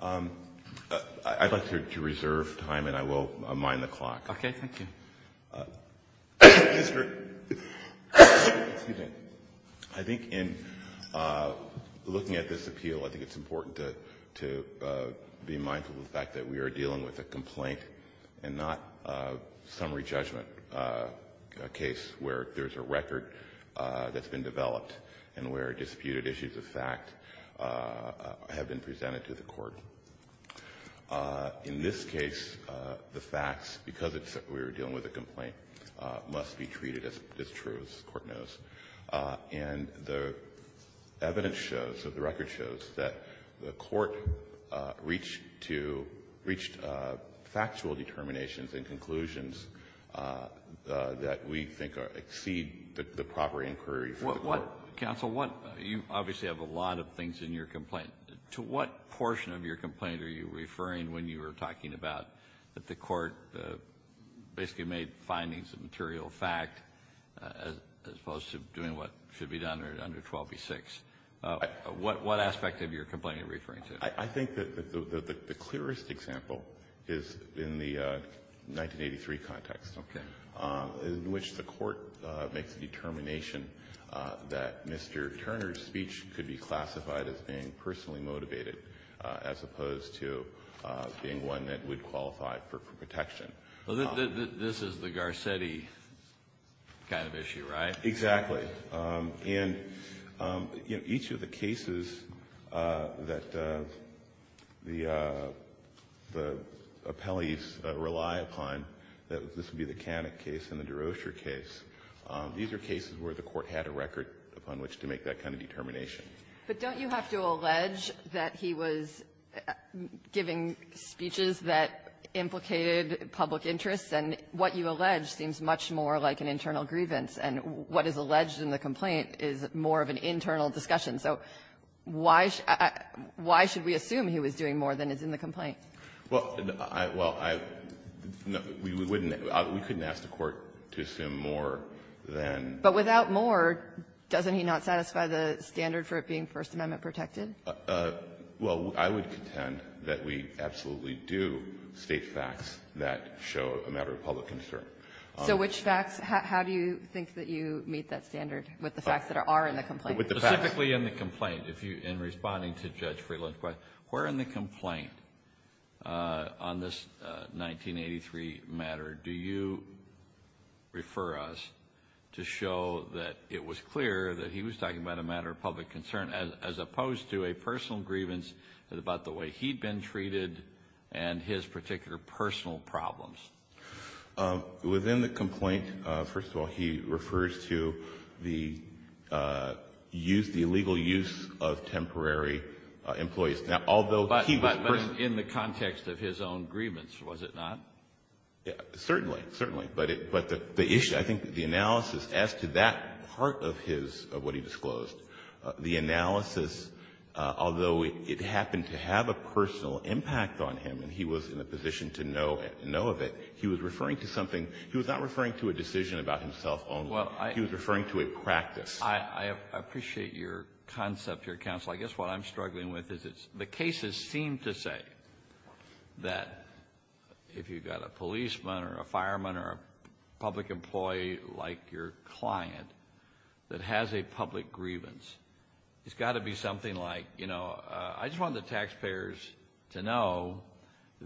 I'd like to reserve time and I will mind the clock. Okay, thank you. I think in looking at this appeal, I think it's important to be mindful of the fact that we are dealing with a complaint and not a summary judgment case where there's a record that's been developed and where disputed issues of fact have been presented to the Court. In this case, the facts, because we're dealing with a complaint, must be treated as true, as the Court knows. And the evidence shows, the record shows, that the Court reached factual determinations and conclusions that we think exceed the proper inquiry for the Court. Counsel, you obviously have a lot of things in your complaint. To what portion of your complaint are you referring when you were talking about that the Court basically made findings of material fact as opposed to doing what should be done under 12b-6? What aspect of your complaint are you referring to? I think that the clearest example is in the 1983 context. Okay. In which the Court makes a determination that Mr. Turner's speech could be classified as being personally motivated as opposed to being one that would qualify for protection. This is the Garcetti kind of issue, right? Exactly. And, you know, each of the cases that the appellees rely upon, that this would be the Canik case and the Derosier case, these are cases where the Court had a record upon which to make that kind of determination. But don't you have to allege that he was giving speeches that implicated public interest, and what you allege seems much more like an internal grievance, and what is alleged in the complaint is more of an internal discussion? So why should we assume he was doing more than is in the complaint? Well, I — well, I — we wouldn't — we couldn't ask the Court to assume more than But without more, doesn't he not satisfy the standard for it being First Amendment protected? Well, I would contend that we absolutely do state facts that show a matter of public concern. So which facts? How do you think that you meet that standard with the facts that are in the complaint? With the facts. Specifically in the complaint, if you — in responding to Judge Friedland's question, where in the complaint on this 1983 matter do you refer us to show that it was clear that he was talking about a matter of public concern as opposed to it a personal grievance about the way he'd been treated and his particular personal problems? Within the complaint, first of all, he refers to the use — the illegal use of temporary employees. Now, although he was — But in the context of his own grievance, was it not? Certainly. Certainly. But the issue — I think the analysis as to that part of his — of what he disclosed, the analysis, although it happened to have a personal impact on him and he was in a position to know of it, he was referring to something — he was not referring to a decision about himself only. He was referring to a practice. I appreciate your concept here, counsel. I guess what I'm struggling with is it's — the cases seem to say that if you've got a policeman or a fireman or a public employee like your client that has a public grievance, it's got to be something like, you know, I just want the taxpayers to know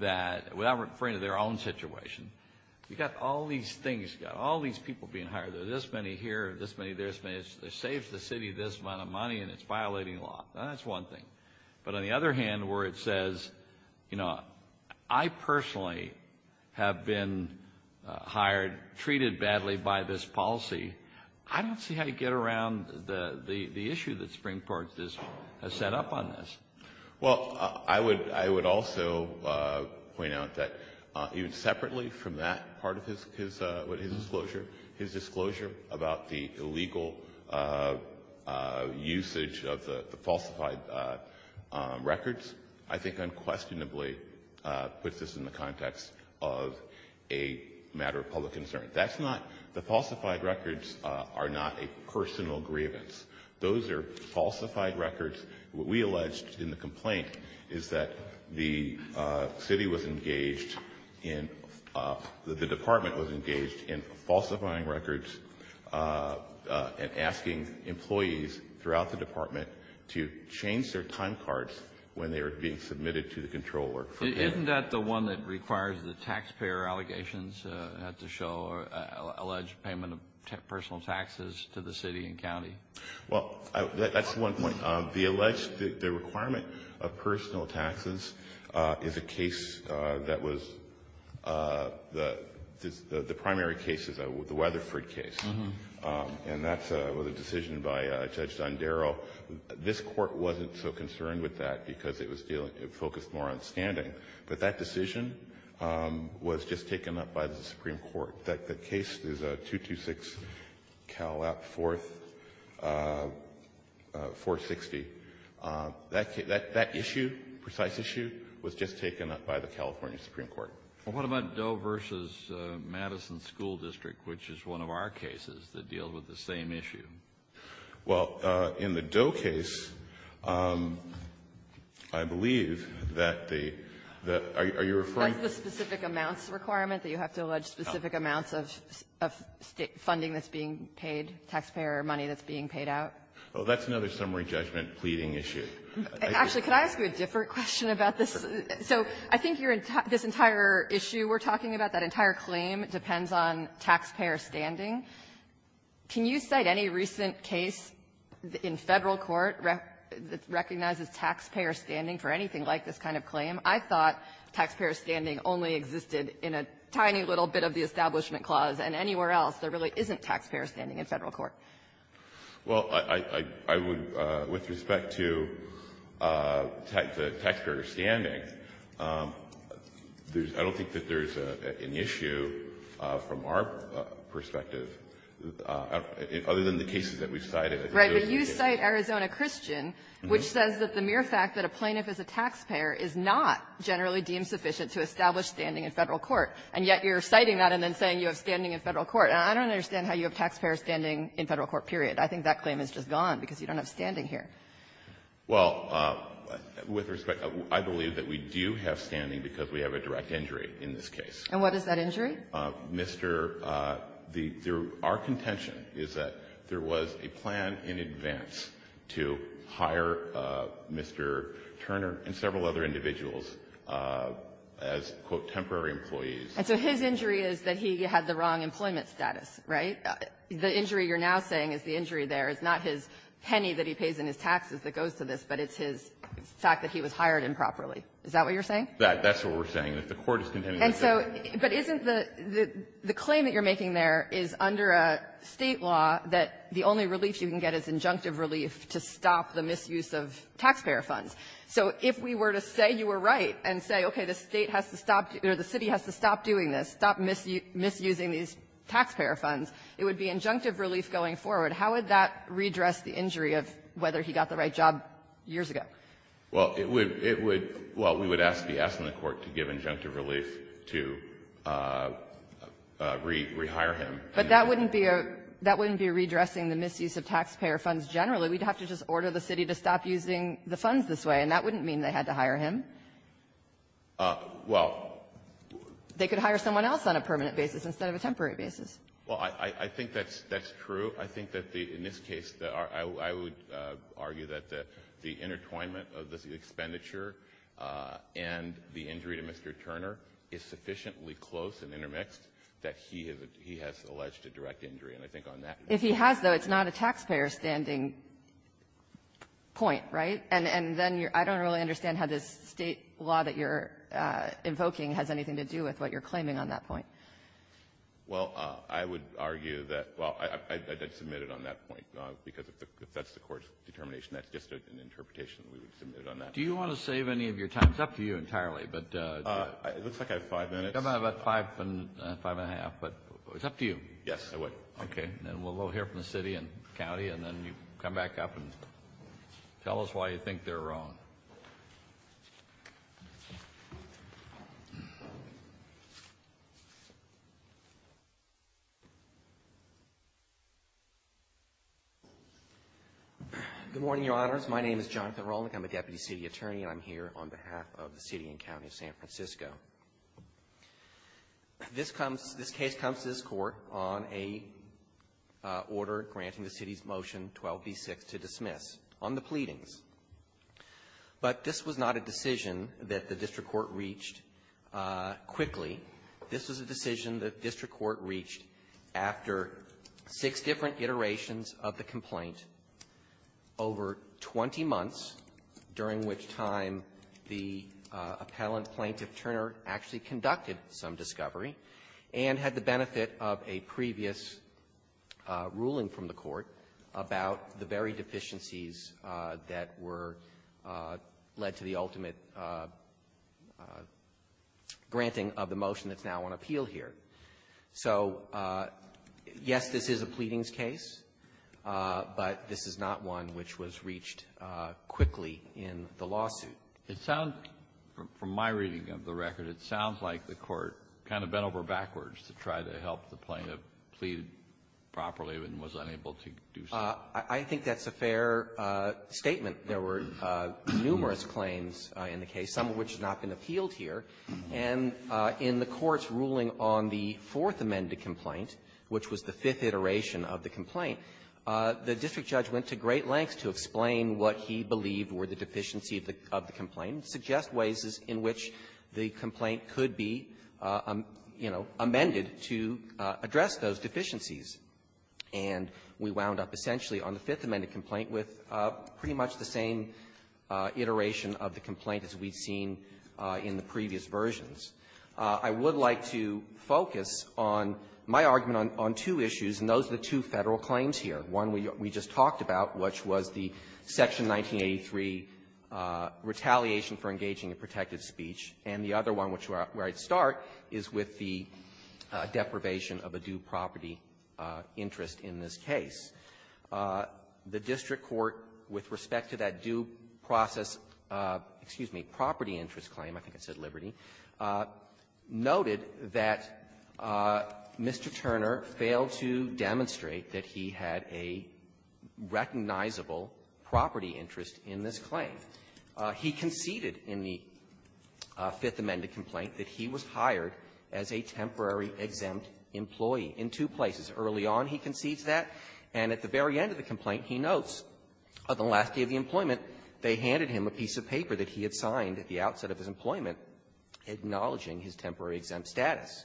that — without referring to their own situation, you've got all these things, you've got all these people being hired. There are this many here, this many there, this many — it saves the city this amount of money and it's violating law. Now, that's one thing. But on the other hand, where it says, you know, I personally have been hired, treated badly by this policy, I don't see how you get around the issue that Supreme Court has set up on this. Well, I would also point out that even separately from that part of his — what his disclosure — his disclosure about the illegal usage of the falsified records, I think unquestionably puts this in the context of a matter of public concern. That's not — the falsified records are not a personal grievance. Those are falsified records. What we alleged in the complaint is that the city was engaged in — the department was engaged in falsifying records and asking employees throughout the department to change their time cards when they were being submitted to the controller. Isn't that the one that requires the taxpayer allegations to show alleged payment of personal taxes to the city and county? Well, that's one point. The alleged — the requirement of personal taxes is a case that was — the primary case is the Weatherford case. And that was a decision by Judge Dondero. This Court wasn't so concerned with that because it was dealing — it focused more on standing. But that decision was just taken up by the Supreme Court. The case is 226 Calap 4th — 460. That issue, precise issue, was just taken up by the California Supreme Court. Well, what about Doe v. Madison School District, which is one of our cases that deals with the same issue? Well, in the Doe case, I believe that the — that — are you referring to — That's the specific amounts requirement, that you have to allege specific amounts of funding that's being paid, taxpayer money that's being paid out? Well, that's another summary judgment pleading issue. Actually, could I ask you a different question about this? So I think you're — this entire issue we're talking about, that entire claim, depends on taxpayer standing. Can you cite any recent case in Federal court that recognizes taxpayer standing for anything like this kind of claim? I thought taxpayer standing only existed in a tiny little bit of the Establishment Clause, and anywhere else there really isn't taxpayer standing in Federal court. Well, I — I would, with respect to taxpayer standing, there's — I don't think that there's an issue from our perspective, other than the cases that we've cited. Right. But you cite Arizona Christian, which says that the mere fact that a plaintiff is a taxpayer is not generally deemed sufficient to establish standing in Federal court. And yet you're citing that and then saying you have standing in Federal court. And I don't understand how you have taxpayer standing in Federal court, period. I think that claim is just gone because you don't have standing here. Well, with respect, I believe that we do have standing because we have a direct injury in this case. And what is that injury? Mr. — the — our contention is that there was a plan in advance to hire Mr. Turner and several other individuals as, quote, temporary employees. And so his injury is that he had the wrong employment status, right? The injury you're now saying is the injury there. It's not his penny that he pays in his taxes that goes to this, but it's his fact that he was hired improperly. Is that what you're saying? That's what we're saying. And if the court is contending that they're — And so — but isn't the — the claim that you're making there is under a State law that the only relief you can get is injunctive relief to stop the misuse of taxpayer funds. So if we were to say you were right and say, okay, the State has to stop — or the City has to stop doing this, stop misusing these taxpayer funds, it would be injunctive relief going forward. How would that redress the injury of whether he got the right job years ago? Well, it would — it would — well, we would ask the — ask the court to give injunctive relief to rehire him. But that wouldn't be a — that wouldn't be a redressing the misuse of taxpayer funds generally. We'd have to just order the City to stop using the funds this way, and that wouldn't mean they had to hire him. Well — They could hire someone else on a permanent basis instead of a temporary basis. Well, I think that's — that's true. I think that the — in this case, I would argue that the intertwinement of the expenditure and the injury to Mr. Turner is sufficiently close and intermixed that he has — he has alleged a direct injury. And I think on that — If he has, though, it's not a taxpayer-standing point, right? And then you're — I don't really understand how this State law that you're invoking has anything to do with what you're claiming on that point. Well, I would argue that — well, I did submit it on that point, because if that's the court's determination, that's just an interpretation that we would submit it on that. Do you want to save any of your time? It's up to you entirely, but — It looks like I have five minutes. You have about five and a half, but it's up to you. Yes, I would. Okay. And then we'll hear from the City and the County, and then you come back up and tell us why you think they're wrong. Good morning, Your Honors. My name is Jonathan Rolnick. I'm a deputy City attorney, and I'm here on behalf of the City and County of San Francisco. This comes — this case comes to this Court on a order granting the City's motion 12b6 to dismiss. I'm going to give you a little bit of context on the pleadings. But this was not a decision that the district court reached quickly. This was a decision that the district court reached after six different iterations of the complaint over 20 months, during which time the appellant plaintiff, Turner, actually conducted some discovery and had the benefit of a previous ruling from the Court about the very deficiencies that were — led to the ultimate granting of the motion that's now on appeal here. So, yes, this is a pleadings case, but this is not one which was reached quickly in the lawsuit. It sounds — from my reading of the record, it sounds like the Court kind of bent over backwards to try to help the plaintiff plead properly, but was unable to do so. I think that's a fair statement. There were numerous claims in the case, some of which have not been appealed here. And in the Court's ruling on the Fourth Amendment complaint, which was the fifth iteration of the complaint, the district judge went to great lengths to explain what he believed were the deficiencies of the complaint and suggest ways in which the complaint could be, you know, amended to address those deficiencies. And we wound up essentially on the Fifth Amendment complaint with pretty much the same iteration of the complaint as we've seen in the previous versions. I would like to focus on my argument on two issues, and those are the two Federal claims here. One we just talked about, which was the Section 1983 retaliation for engaging in protective speech, and the other one, which is where I'd start, is with the deprivation of a due property interest in this case. The district court, with respect to that due process, excuse me, property interest claim, I think it said Liberty, noted that Mr. Turner failed to demonstrate that he had a recognizable property interest in this claim. He conceded in the case that he had a recognizable property interest in the Fifth Amendment complaint that he was hired as a temporary exempt employee in two places. Early on, he concedes that. And at the very end of the complaint, he notes, on the last day of the employment, they handed him a piece of paper that he had signed at the outset of his employment acknowledging his temporary exempt status.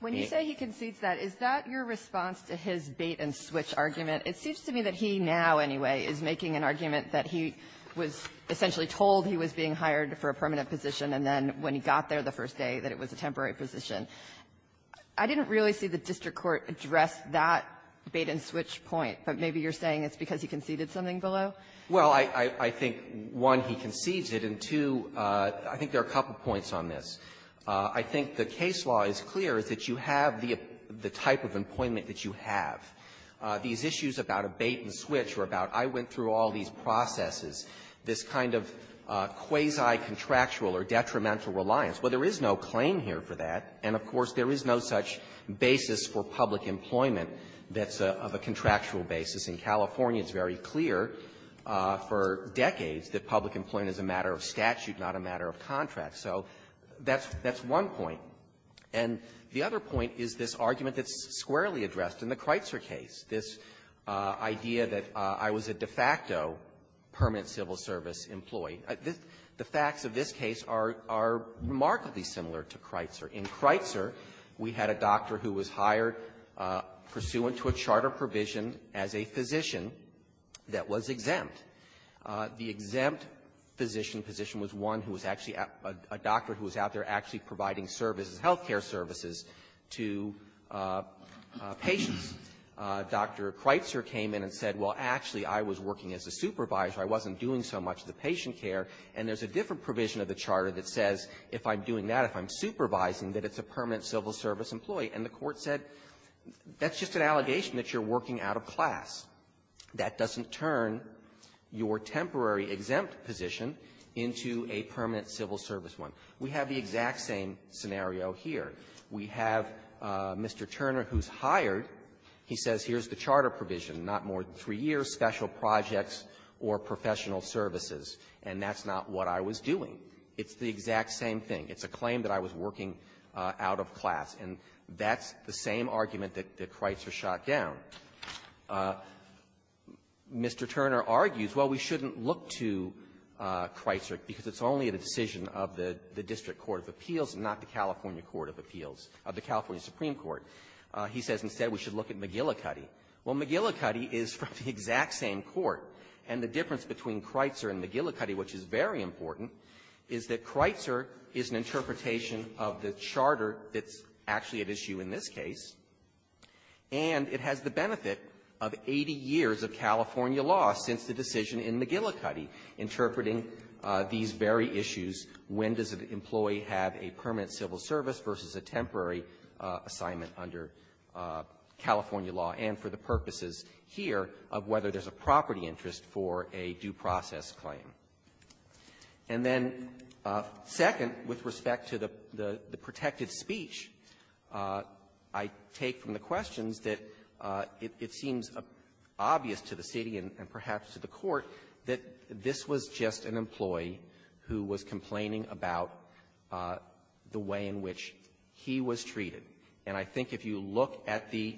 When you say he concedes that, is that your response to his bait-and-switch argument? It seems to me that he now, anyway, is making an argument that he was essentially told he was being hired for a permanent position, and then when he got there the first day, that it was a temporary position. I didn't really see the district court address that bait-and-switch point, but maybe you're saying it's because he conceded something below? Well, I think, one, he concedes it, and, two, I think there are a couple points on this. I think the case law is clear, is that you have the type of employment that you have. These issues about a bait-and-switch are about, I went through all these processes, this kind of quasi-contractual or detrimental reliance. Well, there is no claim here for that. And, of course, there is no such basis for public employment that's of a contractual basis. In California, it's very clear for decades that public employment is a matter of statute, not a matter of contract. So that's one point. The other case, this idea that I was a de facto permanent civil service employee, the facts of this case are remarkably similar to Kreitzer. In Kreitzer, we had a doctor who was hired pursuant to a charter provision as a physician that was exempt. The exempt physician position was one who was actually a doctor who was out there actually providing services, health care services, to patients. Dr. Kreitzer came in and said, well, actually, I was working as a supervisor. I wasn't doing so much of the patient care. And there's a different provision of the charter that says if I'm doing that, if I'm supervising, that it's a permanent civil service employee. And the Court said, that's just an allegation that you're working out of class. That doesn't turn your temporary exempt position into a permanent civil service one. We have the exact same scenario here. We have Mr. Turner, who's hired. He says, here's the charter provision, not more than three years, special projects or professional services, and that's not what I was doing. It's the exact same thing. It's a claim that I was working out of class. And that's the same argument that Kreitzer shot down. Mr. Turner argues, well, we shouldn't look to Kreitzer because it's only a decision of the district court of appeals, not the California court of appeals, of the California Supreme Court. He says, instead, we should look at McGillicuddy. Well, McGillicuddy is from the exact same court. And the difference between Kreitzer and McGillicuddy, which is very important, is that Kreitzer is an interpretation of the charter that's actually at issue in this case, and it has the benefit of 80 years of California law since the decision in McGillicuddy interpreting these very issues. When does an employee have a permanent civil service versus a temporary assignment under California law, and for the purposes here of whether there's a property interest for a due process claim. And then, second, with respect to the protected speech, I take from the questions that it seems obvious to the City and perhaps to the Court that this was just an employee who was complaining about the way in which he was treated. And I think if you look at the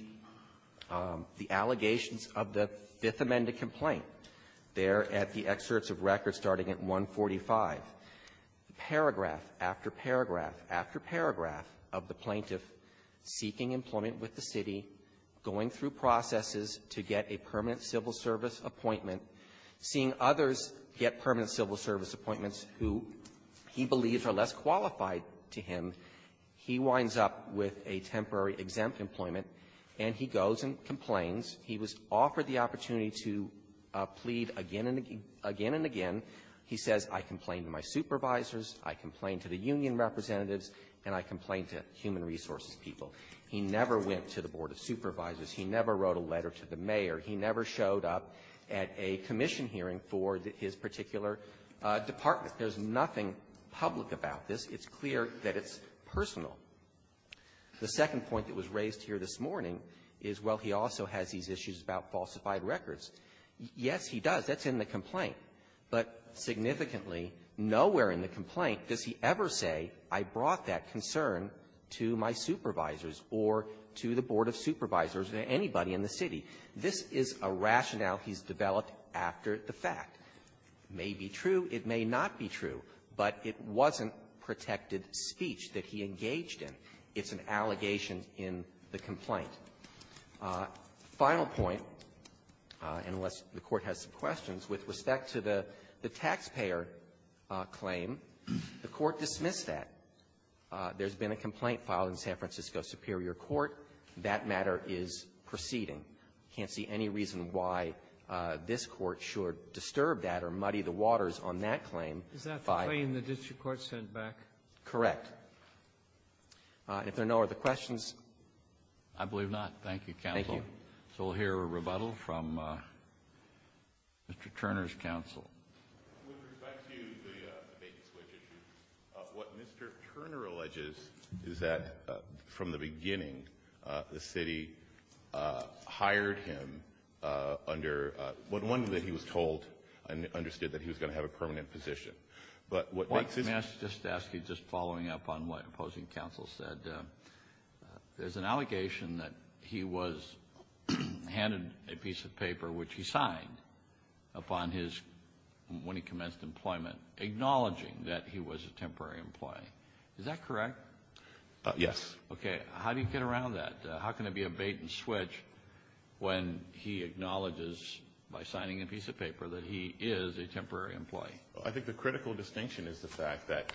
allegations of the Fifth Amendment complaint there at the excerpts of record starting at 145, paragraph after paragraph after paragraph of the plaintiff seeking employment with the City, going through processes to get a permanent civil service appointment, seeing others get permanent civil service appointments who he believes are less qualified to him, he winds up with a temporary exempt employment, and he goes and complains. He was offered the opportunity to plead again and again. He says, I complain to my supervisors, I complain to the mayor. He never showed up at a commission hearing for his particular department. There's nothing public about this. It's clear that it's personal. The second point that was raised here this morning is, well, he also has these issues about falsified records. Yes, he does. That's in the complaint. But significantly, nowhere in the complaint does he ever say, I brought that concern to my supervisors or to the board of supervisors or anybody in the City. This is a rationale he's developed after the fact. It may be true, it may not be true, but it wasn't protected speech that he engaged in. It's an allegation in the complaint. Final point, and unless the Court has some questions, with respect to the taxpayer claim, the Court dismissed that. There's been a complaint filed in San Francisco Superior Court. That matter is proceeding. I can't see any reason why this Court should disturb that or muddy the waters on that claim by ---- Sotomayor, is that the claim the district court sent back? Correct. If there are no other questions ---- Kennedy, I believe not. Thank you, counsel. Thank you. So we'll hear a rebuttal from Mr. Turner's counsel. With respect to the vacant switch issue, what Mr. Turner alleges is that from the beginning the City hired him under, one, that he was told and understood that he was going to have a permanent position. But what makes this ---- Let me ask, just to ask you, just following up on what opposing counsel said, there's an allegation that he was handed a piece of paper which he signed upon his, when he commenced employment, acknowledging that he was a temporary employee. Is that correct? Yes. Okay. How do you get around that? How can it be a bait-and-switch when he acknowledges by signing a piece of paper that he is a temporary employee? I think the critical distinction is the fact that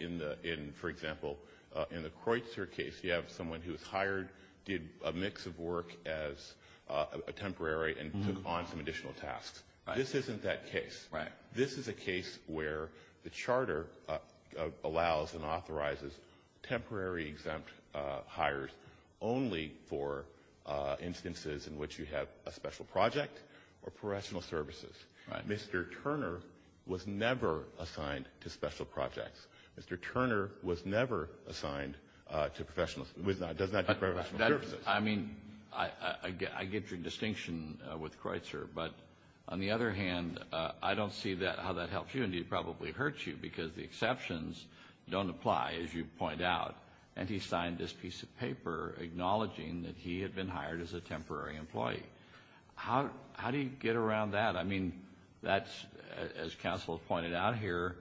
in the, for example, in the Kreutzer case, you have someone who was hired, did a mix of work as a temporary, and took on some additional tasks. Right. This isn't that case. Right. This is a case where the charter allows and authorizes temporary exempt hires only for instances in which you have a special project or professional services. Right. Mr. Turner was never assigned to special projects. Mr. Turner was never assigned to professional, was not, does not do professional services. I mean, I get your distinction with Kreutzer, but on the other hand, I don't see that, how that helps you, and it probably hurts you, because the exceptions don't apply, as you point out. And he signed this piece of paper acknowledging that he had been hired as a temporary employee. How do you get around that? I mean, that's, as counsel pointed out here,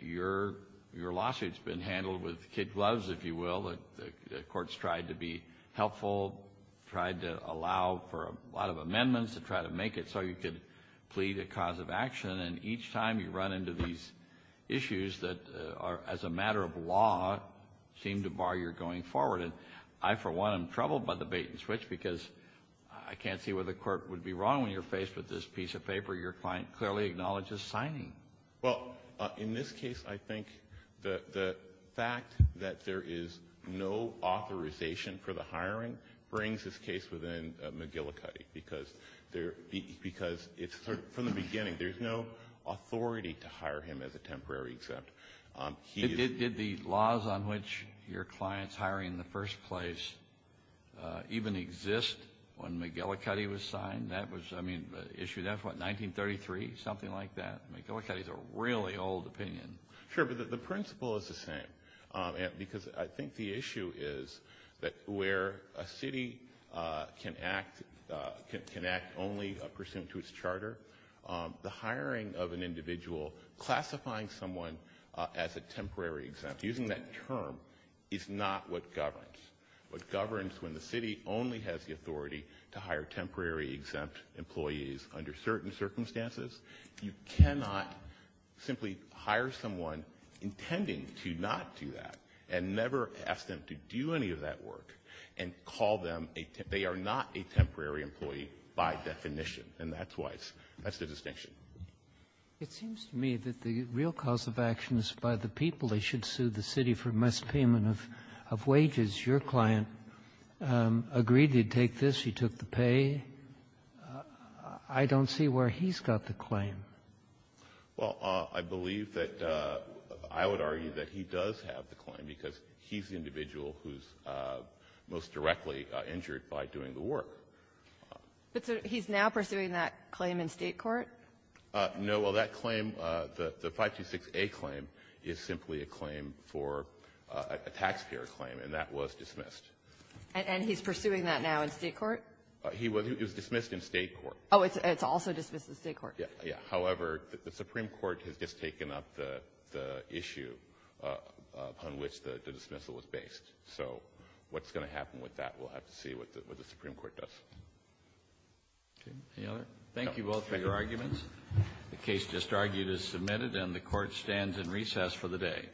your lawsuit's been handled with kid gloves, if you will. The court's tried to be helpful, tried to allow for a lot of amendments to try to make it so you could plead a cause of action, and each time you run into these issues that are, as a matter of law, seem to bar your going forward. And I, for one, am troubled by the bait and switch, because I can't see where the court would be wrong when you're faced with this piece of paper your client clearly acknowledges signing. Well, in this case, I think the fact that there is no authorization for the hiring brings this case within McGillicuddy, because there, because it's, from the beginning, there's no authority to hire him as a temporary exempt. Did the laws on which your client's hiring in the first place even exist when McGillicuddy was signed? That was, I mean, issued after what, 1933? Something like that. McGillicuddy's a really old opinion. Sure, but the principle is the same, because I think the issue is that where a city can act only pursuant to its charter, the hiring of an individual, classifying someone as a temporary exempt, using that term, is not what governs. What governs when the city only has the authority to hire temporary exempt employees under certain circumstances, you cannot simply hire someone intending to not do that and never ask them to do any of that work and call them a, they are not a temporary employee by definition. And that's why it's, that's the distinction. It seems to me that the real cause of action is by the people that should sue the city for mispayment of wages. Your client agreed to take this. He took the pay. I don't see where he's got the claim. Well, I believe that I would argue that he does have the claim, because he's the individual who's most directly injured by doing the work. But he's now pursuing that claim in State court? No, well, that claim, the 526A claim is simply a claim for a taxpayer claim, and that was dismissed. And he's pursuing that now in State court? He was, it was dismissed in State court. Oh, it's also dismissed in State court? Yeah. However, the Supreme Court has just taken up the issue upon which the dismissal is based. So what's going to happen with that, we'll have to see what the Supreme Court does. Okay. Any other? Thank you both for your arguments. The case just argued is submitted, and the Court stands in recess for the day.